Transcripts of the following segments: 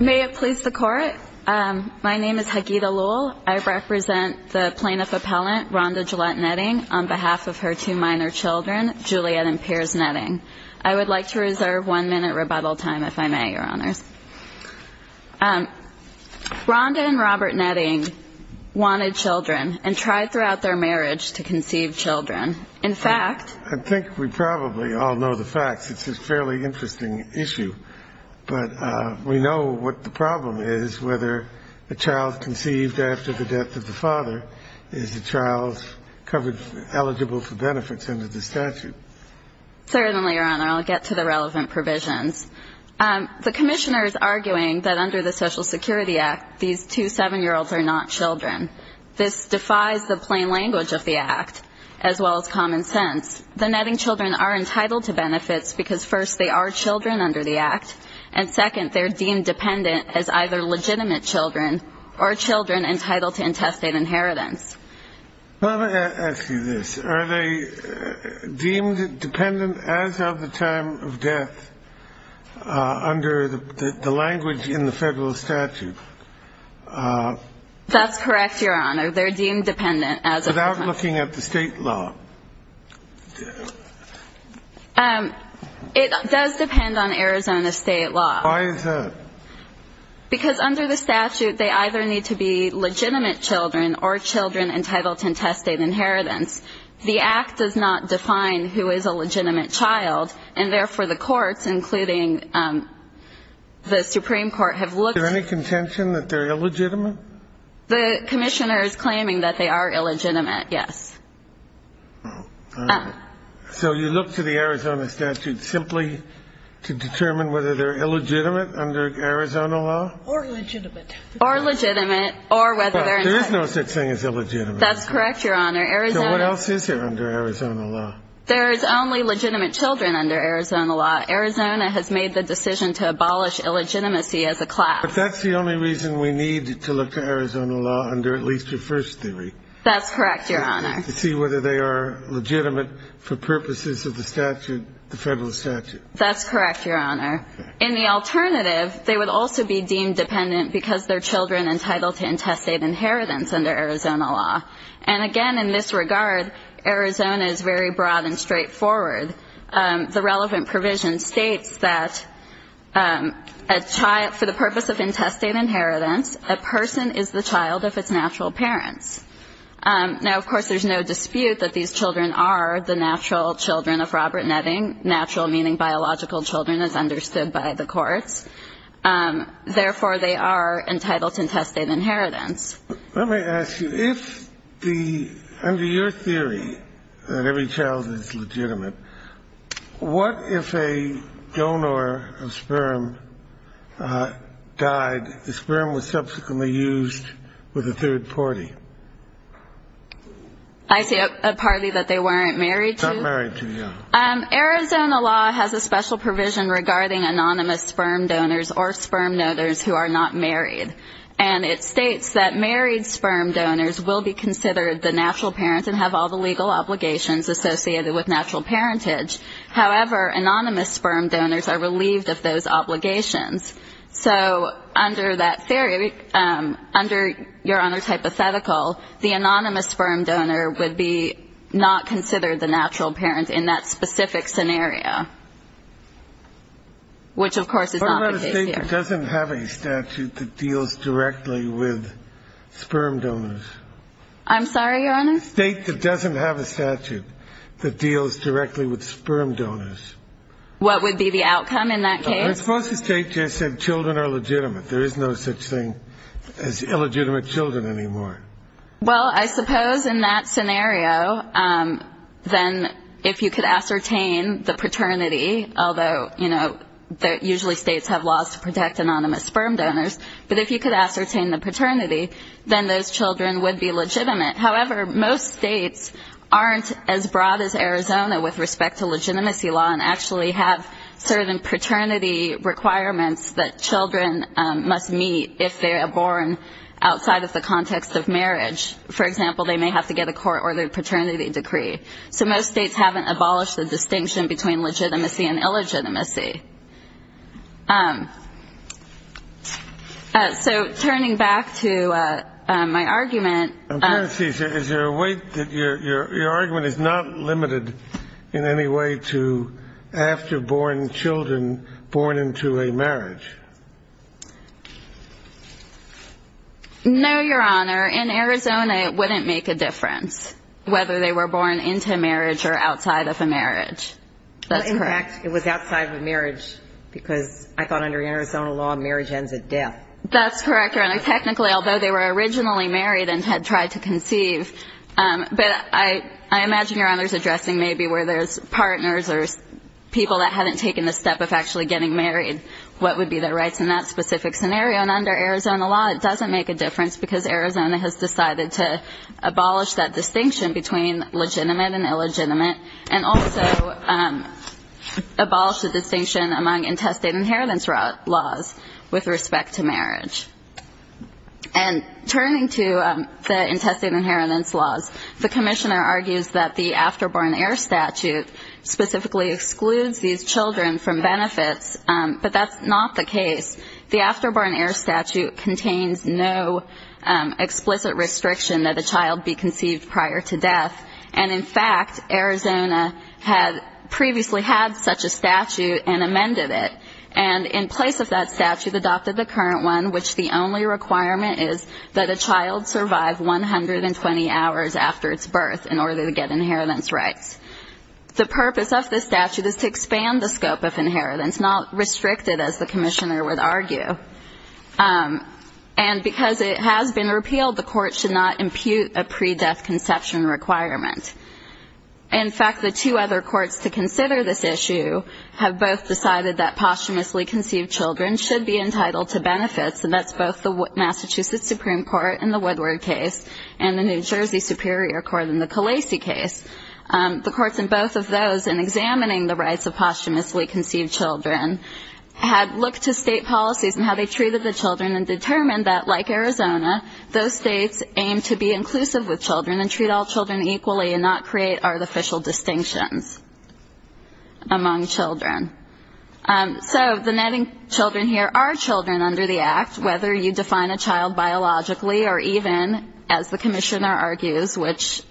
May it please the Court, my name is Hagida Luhl, I represent the Plaintiff Appellant Rhonda Gillette Netting on behalf of her two minor children, Juliet and Pierce Netting. I would like to reserve one minute rebuttal time if I may, Your Honors. Rhonda and Robert Netting wanted children and tried throughout their marriage to conceive children. In fact, I think we probably all know the facts, it's a fairly interesting issue, but we know what the problem is, whether a child conceived after the death of the father is a child eligible for benefits under the statute. Certainly, Your Honor, I'll get to the relevant provisions. The Commissioner is arguing that under the Social Security Act, these two seven-year-olds are not children. This defies the plain language of the Act, as well as common sense. The Netting children are entitled to benefits because first, they are children under the Act, and second, they are deemed dependent as either legitimate children or children entitled to intestate inheritance. Well, let me ask you this. Are they deemed dependent as of the time of death under the language in the federal statute? That's correct, Your Honor. They're deemed dependent as of the time of death. Without looking at the state law? It does depend on Arizona state law. Why is that? Because under the statute, they either need to be legitimate children or children entitled to intestate inheritance. The Act does not define who is a legitimate child, and therefore, the courts, including the Supreme Court, have looked Is there any contention that they're illegitimate? The Commissioner is claiming that they are illegitimate, yes. So you look to the Arizona statute simply to determine whether they're illegitimate under Arizona law? Or legitimate. Or legitimate, or whether they're entitled. But there is no such thing as illegitimate. That's correct, Your Honor. So what else is there under Arizona law? There is only legitimate children under Arizona law. Arizona has made the decision to abolish illegitimacy as a class. But that's the only reason we need to look to Arizona law under at least your first theory. That's correct, Your Honor. To see whether they are legitimate for purposes of the statute, the federal statute. That's correct, Your Honor. In the alternative, they would also be deemed dependent because they're children entitled to intestate inheritance under Arizona law. And again, in this regard, Arizona is very broad and straightforward. The relevant provision states that for the purpose of intestate inheritance, a person is the child of its natural parents. Now, of course, there's no dispute that these children are the natural children of Robert Netting, natural meaning biological children as understood by the courts. Therefore, they are entitled to intestate inheritance. Let me ask you, under your theory that every child is legitimate, what if a donor of sperm died, the sperm was subsequently used with a third party? I see, a party that they weren't married to? Not married to, yeah. Arizona law has a special provision regarding anonymous sperm donors or sperm donors who are not married. And it states that married sperm donors will be considered the natural parents and have all the legal obligations associated with natural parentage. However, anonymous sperm donors are relieved of those obligations. So under that theory, under Your Honor's hypothetical, the anonymous sperm donor would be not considered the natural parent in that specific scenario, which of course is not the case here. It doesn't have a statute that deals directly with sperm donors. I'm sorry, Your Honor? A state that doesn't have a statute that deals directly with sperm donors. What would be the outcome in that case? I suppose the state just said children are legitimate. There is no such thing as illegitimate children anymore. Well, I suppose in that scenario, then if you could ascertain the paternity, although usually states have laws to protect anonymous sperm donors, but if you could ascertain the paternity, then those children would be legitimate. However, most states aren't as broad as Arizona with respect to legitimacy law and actually have certain paternity requirements that children must meet if they are born outside of the context of marriage. For example, they may have to get a court-ordered paternity decree. So most states haven't abolished the distinction between legitimacy and illegitimacy. So turning back to my argument- I'm trying to see, is there a way that your argument is not limited in any way to after-born children born into a marriage? No, Your Honor. In Arizona, it wouldn't make a difference whether they were born into marriage or outside of a marriage. That's correct. It was outside of a marriage because I thought under Arizona law, marriage ends at death. That's correct, Your Honor. Technically, although they were originally married and had tried to conceive, but I imagine Your Honor's addressing maybe where there's partners or people that haven't taken the step of actually getting married, what would be their rights in that specific scenario. And under Arizona law, it doesn't make a difference because Arizona has decided to abolish that distinction between legitimate and illegitimate, and also abolish the distinction among intestate inheritance laws with respect to marriage. And turning to the intestate inheritance laws, the commissioner argues that the after-born heir statute specifically excludes these children from benefits, but that's not the case. The after-born heir statute contains no explicit restriction that a child be conceived prior to death. And in fact, Arizona had previously had such a statute and amended it. And in place of that statute, adopted the current one, which the only requirement is that a child survive 120 hours after its birth in order to get inheritance rights. The purpose of this statute is to expand the scope of inheritance, not restrict it as the commissioner would argue. And because it has been repealed, the court should not impute a pre-death conception requirement. In fact, the two other courts to consider this issue have both decided that posthumously conceived children should be entitled to benefits, and that's both the Massachusetts Supreme Court in the Woodward case and the New Jersey Superior Court in the Khaleesi case. The courts in both of those, in examining the rights of posthumously conceived children, had looked to state policies and how they treated the children and determined that, like Arizona, those states aim to be inclusive with children and treat all children equally and not create artificial distinctions among children. So the netting children here are children under the Act, whether you define a child biologically or even, as the commissioner argues, which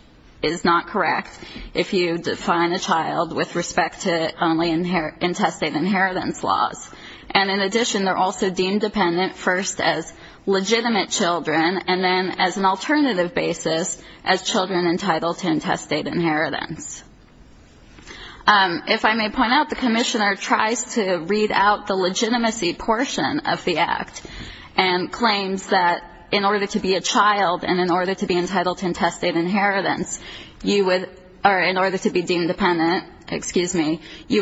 is not correct, if you define a child with respect to only intestate inheritance laws. And in addition, they're also deemed dependent first as legitimate children and then, as an alternative basis, as children entitled to intestate inheritance. If I may point out, the commissioner tries to read out the legitimacy portion of the Act and claims that in order to be a child and in order to be deemed dependent, you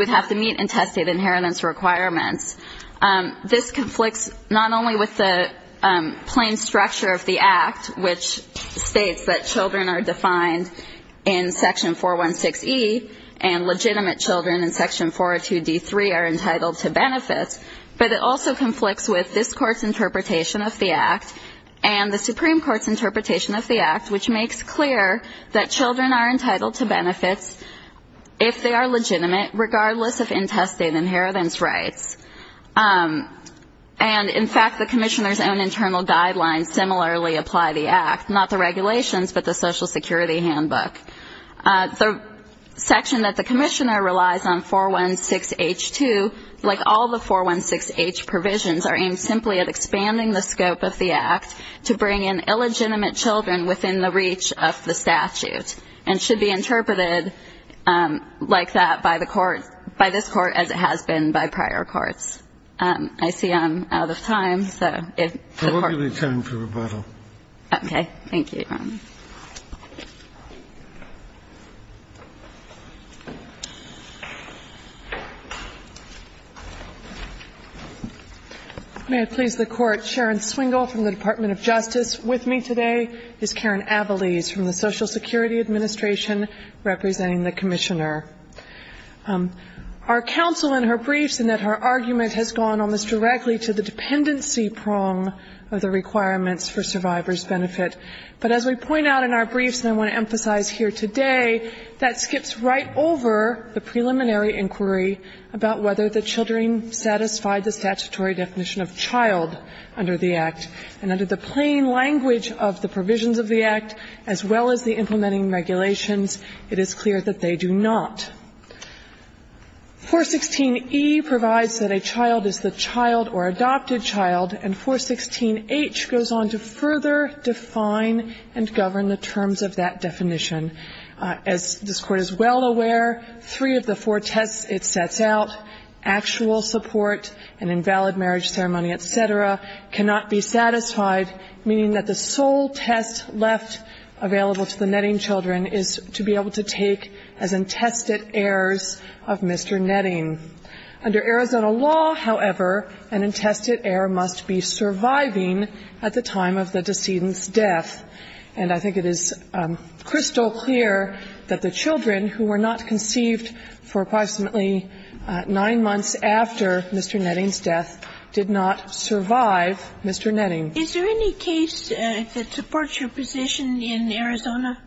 would have to meet intestate inheritance requirements. This conflicts not only with the plain structure of the Act, which states that children are defined in Section 416E and legitimate children in Section 402D3 are entitled to benefits, but it also conflicts with this Court's interpretation of the Act and the Supreme Court's interpretation of the Act, which makes clear that children are entitled to benefits if they are legitimate, regardless of intestate inheritance rights. And in fact, the commissioner's own internal guidelines similarly apply the Act, not the regulations, but the Social Security Handbook. The section that the commissioner relies on, 416H2, like all the 416H provisions, are aimed simply at expanding the scope of the Act to bring in the reach of the statute and should be interpreted like that by the Court, by this Court, as it has been by prior courts. I see I'm out of time, so if the Court can... We'll give you time for rebuttal. Okay. Thank you. May I please the Court, Sharon Swingle from the Department of Justice. With me today is Karen Avalese from the Social Security Administration representing the commissioner. Our counsel in her briefs in that her argument has gone almost directly to the dependency prong of the requirements for survivor's benefit, but as we point out in our briefs, and I want to emphasize here today, that skips right over the preliminary inquiry about whether the children satisfied the statutory definition of child under the Act. And under the plain language of the provisions of the Act, as well as the implementing regulations, it is clear that they do not. 416E provides that a child is the child or adopted child, and 416H goes on to further define and govern the terms of that definition. As this Court is well aware, three of the four tests it sets out, actual support and invalid marriage ceremony, et cetera, cannot be satisfied, meaning that the sole test left available to the Netting children is to be able to take as intested heirs of Mr. Netting. Under Arizona law, however, an intested heir must be surviving at the time of the decedent's death. And I think it is crystal clear that the children who were not conceived for approximately nine months after Mr. Netting's death did not survive Mr. Netting. Is there any case that supports your position in Arizona?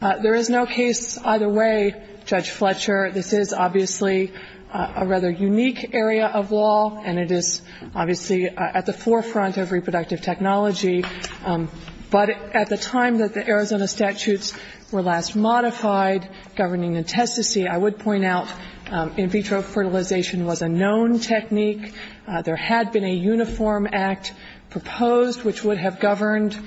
There is no case either way, Judge Fletcher. This is obviously a rather unique area of law, and it is obviously at the forefront of reproductive technology, but at the time that the Arizona statutes were last modified governing intestacy, I would point out in vitro fertilization was a known technique. There had been a uniform act proposed which would have governed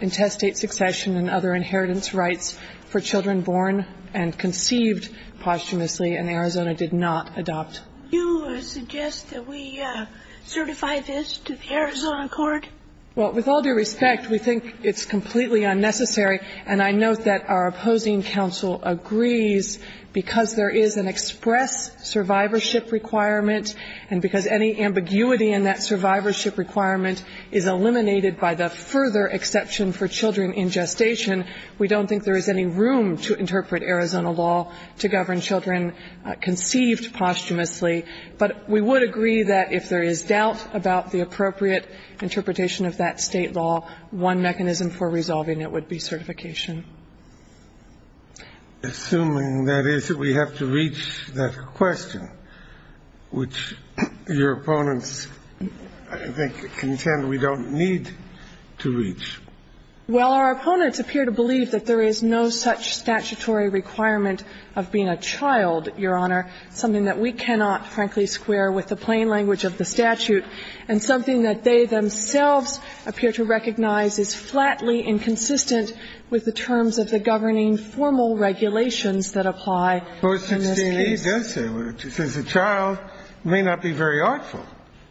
intestate succession and other inheritance rights for children born and conceived posthumously, and Arizona did not adopt. Do you suggest that we certify this to the Arizona court? Well, with all due respect, we think it's completely unnecessary, and I note that our opposing counsel agrees, because there is an express survivorship requirement and because any ambiguity in that survivorship requirement is eliminated by the further exception for children in gestation, we don't think there is any room to interpret Arizona law to govern children conceived posthumously. But we would agree that if there is doubt about the appropriate interpretation of that state law, one mechanism for resolving it would be certification. Assuming, that is, that we have to reach that question, which your opponents, I think, contend we don't need to reach. Well, our opponents appear to believe that there is no such statutory requirement of being a child, Your Honor, something that we cannot, frankly, square with the plain language of the statute, and something that they themselves appear to recognize is flatly inconsistent with the terms of the governing formal regulations that apply in this case. Well, it seems to me it does say, it says a child may not be very artful.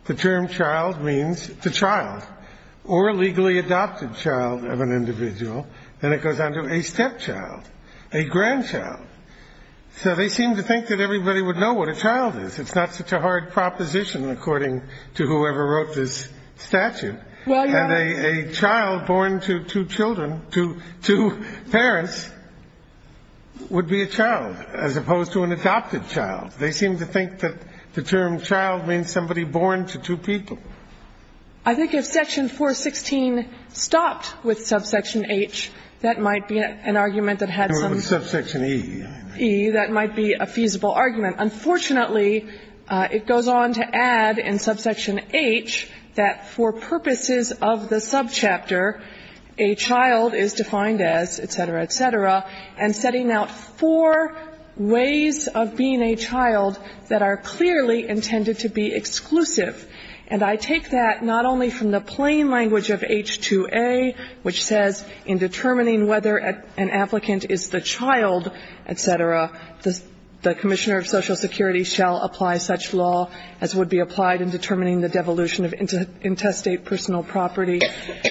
The term child means the child, or a legally adopted child of an individual, and it goes on to a stepchild, a grandchild. So they seem to think that everybody would know what a child is. It's not such a hard proposition, according to whoever wrote this statute. And a child born to two children, to two parents, would be a child, as opposed to an adopted child. They seem to think that the term child means somebody born to two people. I think if Section 416 stopped with subsection H, that might be an argument that had some... With subsection E. E, that might be a feasible argument. Unfortunately, it goes on to add in subsection H that for purposes of the subchapter, a child is defined as, et cetera, et cetera, and setting out four ways of being a child that are clearly intended to be exclusive. And I take that not only from the plain language of H2A, which says in determining whether an applicant is the child, et cetera, the commissioner of Social Security shall apply such law as would be applied in determining the devolution of intestate personal property,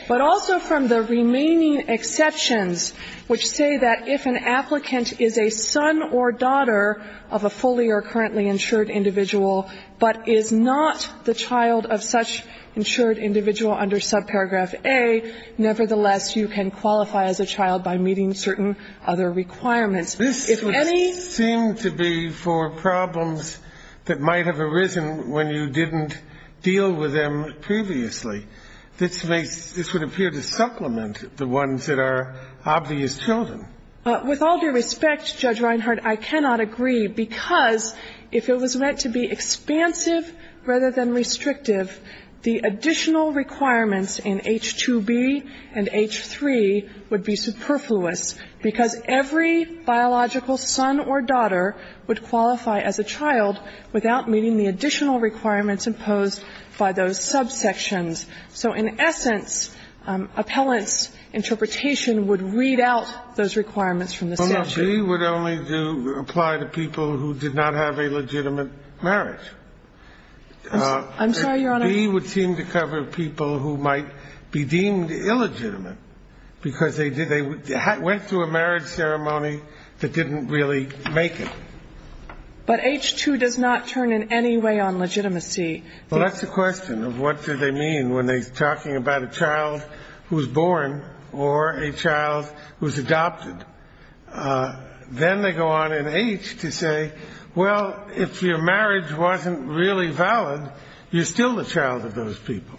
but also from the remaining exceptions, which say that if an applicant is a son or daughter of a fully or currently insured individual, but is not the child of such insured individual under subparagraph A, nevertheless, you can qualify as a child by meeting certain other requirements. If any... This would seem to be for problems that might have arisen when you didn't deal with them previously. This would appear to supplement the ones that are obvious children. With all due respect, Judge Reinhart, I cannot agree, because if it was meant to be exclusive, the additional requirements in H2B and H3 would be superfluous, because every biological son or daughter would qualify as a child without meeting the additional requirements imposed by those subsections. So in essence, appellant's interpretation would read out those requirements from the statute. Scalia, we would only apply to people who did not have a legitimate marriage. I'm sorry, Your Honor? B would seem to cover people who might be deemed illegitimate, because they did they went through a marriage ceremony that didn't really make it. But H2 does not turn in any way on legitimacy. Well, that's the question of what do they mean when they're talking about a child who's born or a child who's adopted. Then they go on in H to say, well, if your marriage wasn't really valid, you're still the child of those people.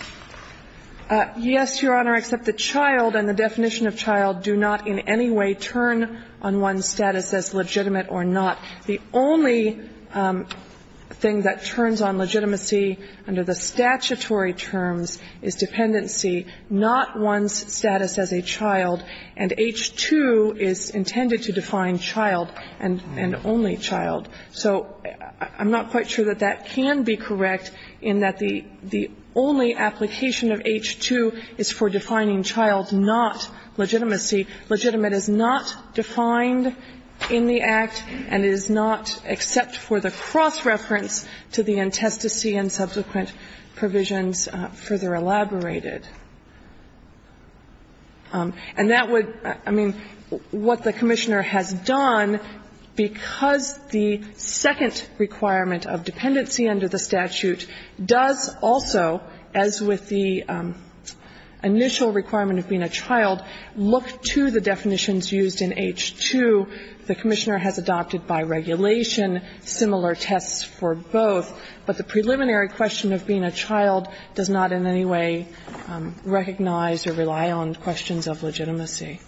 Yes, Your Honor, except the child and the definition of child do not in any way turn on one's status as legitimate or not. The only thing that turns on legitimacy under the statutory terms is dependency, not one's status as a child. And H2 is intended to define child and only child. So I'm not quite sure that that can be correct, in that the only application of H2 is for defining child, not legitimacy. Legitimate is not defined in the Act, and it is not except for the cross-reference to the antestasy and subsequent provisions further elaborated. And that would, I mean, what the Commissioner has done, because the second requirement of dependency under the statute does also, as with the initial requirement of being a child, look to the definitions used in H2. The Commissioner has adopted by regulation similar tests for both, but the preliminary question of being a child does not in any way recognize or rely on questions of legitimacy.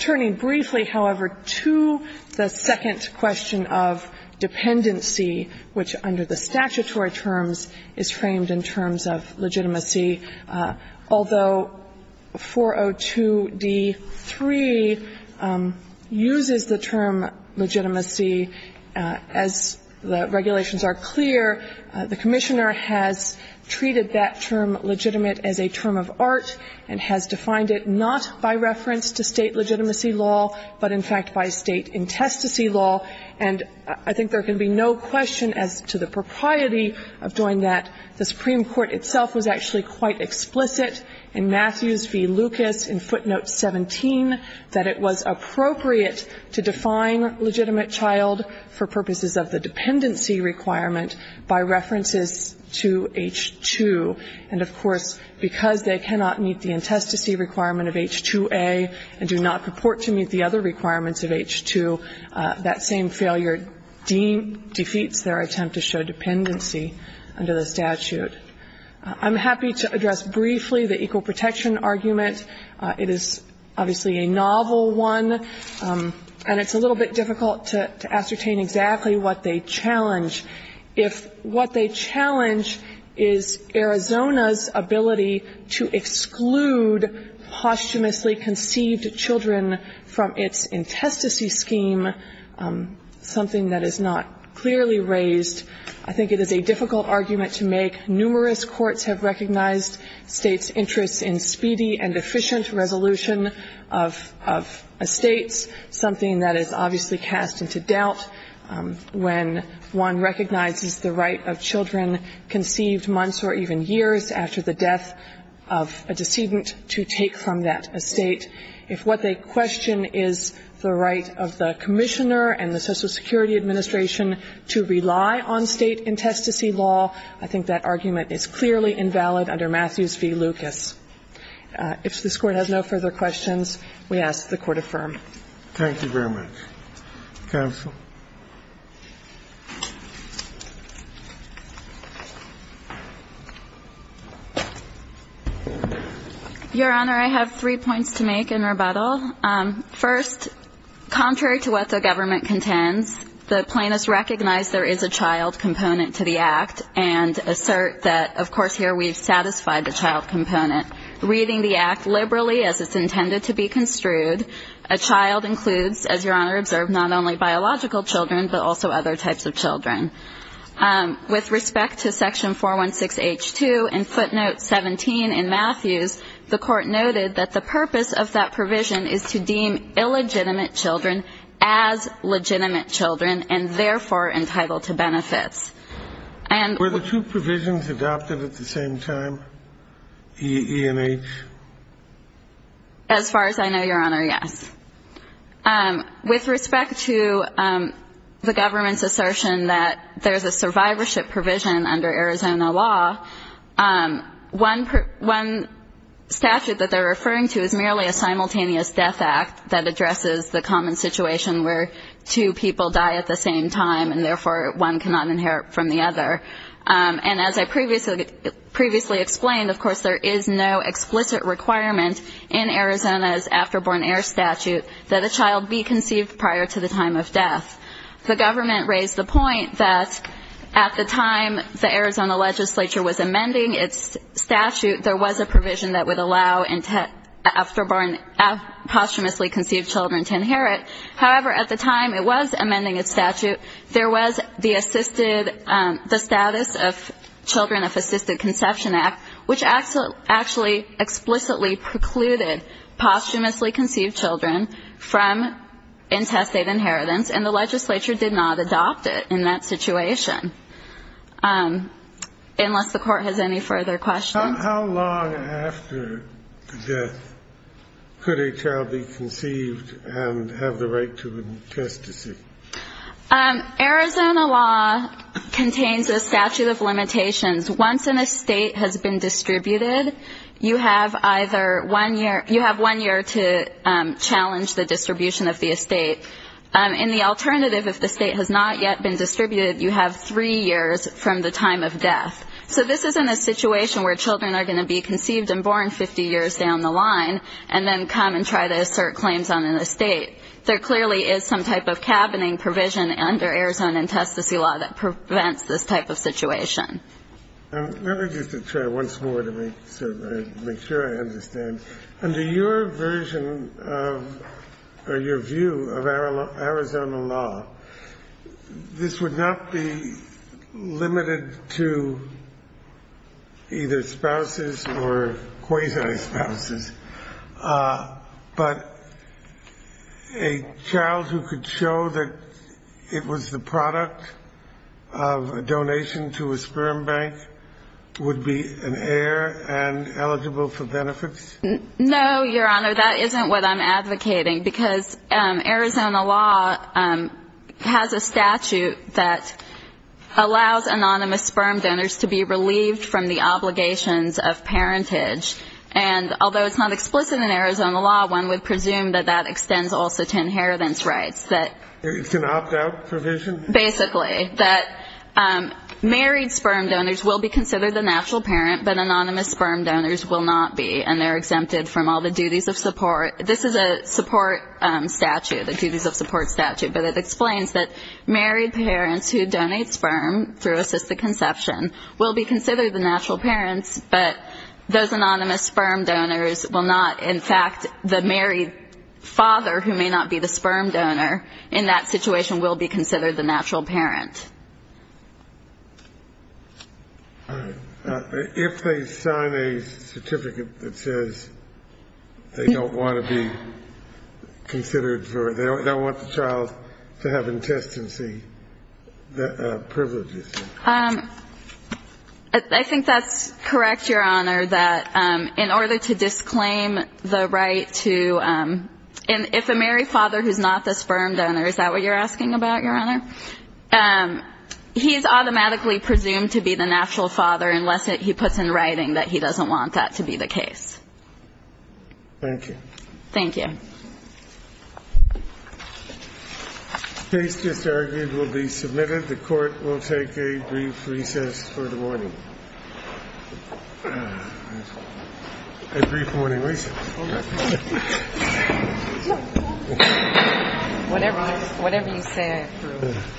Turning briefly, however, to the second question of dependency, which under the statutory terms is framed in terms of legitimacy, although 402d3 uses the term legitimacy as the regulations are clear. The Commissioner has treated that term legitimate as a term of art and has defined it not by reference to State legitimacy law, but in fact by State antestasy law. And I think there can be no question as to the propriety of doing that. The Supreme Court itself was actually quite explicit in Matthews v. Lucas in footnote 17 that it was appropriate to define legitimate child for purposes of the dependency requirement by references to H2. And, of course, because they cannot meet the antestasy requirement of H2A and do not purport to meet the other requirements of H2, that same failure defeats their attempt to show dependency under the statute. I'm happy to address briefly the equal protection argument. It is obviously a novel one, and it's a little bit difficult to ascertain exactly what they challenge. If what they challenge is Arizona's ability to exclude posthumously conceived children from its antestasy scheme, something that is not clearly raised, I think it is a difficult argument to make. Numerous courts have recognized States' interest in speedy and efficient resolution of estates, something that is obviously cast into doubt when one recognizes the right of children conceived months or even years after the death of a decedent to take from that estate. If what they question is the right of the Commissioner and the Social Security Administration to rely on State antestasy law, I think that argument is clearly invalid under Matthews v. Lucas. If this Court has no further questions, we ask that the Court affirm. Thank you very much. Counsel? Your Honor, I have three points to make in rebuttal. First, contrary to what the government contends, the plaintiffs recognize there is a child component to the Act and assert that, of course, here we've satisfied the child component. Reading the Act liberally as it's intended to be construed, a child includes, as Your Honor observed, not only biological children, but also other types of children. With respect to section 416H2 and footnote 17 in Matthews, the Court noted that the purpose of that provision is to deem illegitimate children as legitimate children and therefore entitled to benefits. Were the two provisions adopted at the same time, E, E, and H? As far as I know, Your Honor, yes. With respect to the government's assertion that there's a survivorship provision under Arizona law, one statute that they're referring to is merely a simultaneous death act that addresses the common situation where two people die at the same time and therefore one cannot inherit from the other. And as I previously explained, of course, there is no explicit requirement in Arizona's after-born heir statute that a child be conceived prior to the time of death. The government raised the point that at the time the Arizona legislature was amending its statute, there was a provision that would allow after-born posthumously conceived children to inherit. However, at the time it was amending its statute, there was the assisted the status of Children of Assisted Conception Act, which actually explicitly precluded posthumously conceived children from intestate inheritance, and the legislature did not adopt it in that situation, unless the Court has any further questions. How long after death could a child be conceived and have the right to intestacy? Once an estate has been distributed, you have either one year to challenge the distribution of the estate. In the alternative, if the estate has not yet been distributed, you have three years from the time of death. So this isn't a situation where children are going to be conceived and born 50 years down the line and then come and try to assert claims on an estate. There clearly is some type of cabining provision under Arizona intestacy law that prevents this type of situation. Let me just try once more to make sure I understand. Under your version of or your view of Arizona law, this would not be limited to either sperm bank would be an heir and eligible for benefits? No, Your Honor, that isn't what I'm advocating. Because Arizona law has a statute that allows anonymous sperm donors to be relieved from the obligations of parentage. And although it's not explicit in Arizona law, one would presume that that extends also to inheritance rights. It's an opt-out provision? Basically, that married sperm donors will be considered the natural parent, but anonymous sperm donors will not be, and they're exempted from all the duties of support. This is a support statute, a duties of support statute, but it explains that married parents who donate sperm through assisted conception will be considered the natural parents, but those anonymous sperm donors will not. In fact, the married father who may not be the sperm donor in that situation will be considered the natural parent. All right. If they sign a certificate that says they don't want to be considered for it, they don't want the child to have intestinal privileges? I think that's correct, Your Honor, that in order to disclaim the right to ‑‑ and if a married father who's not the sperm donor, is that what you're asking about, Your Honor? He's automatically presumed to be the natural father unless he puts in writing that he doesn't want that to be the case. Thank you. Thank you. The case just argued will be submitted. The Court will take a brief recess for the morning. A brief morning recess. Whatever you said. Thank you. Thank you. Thank you.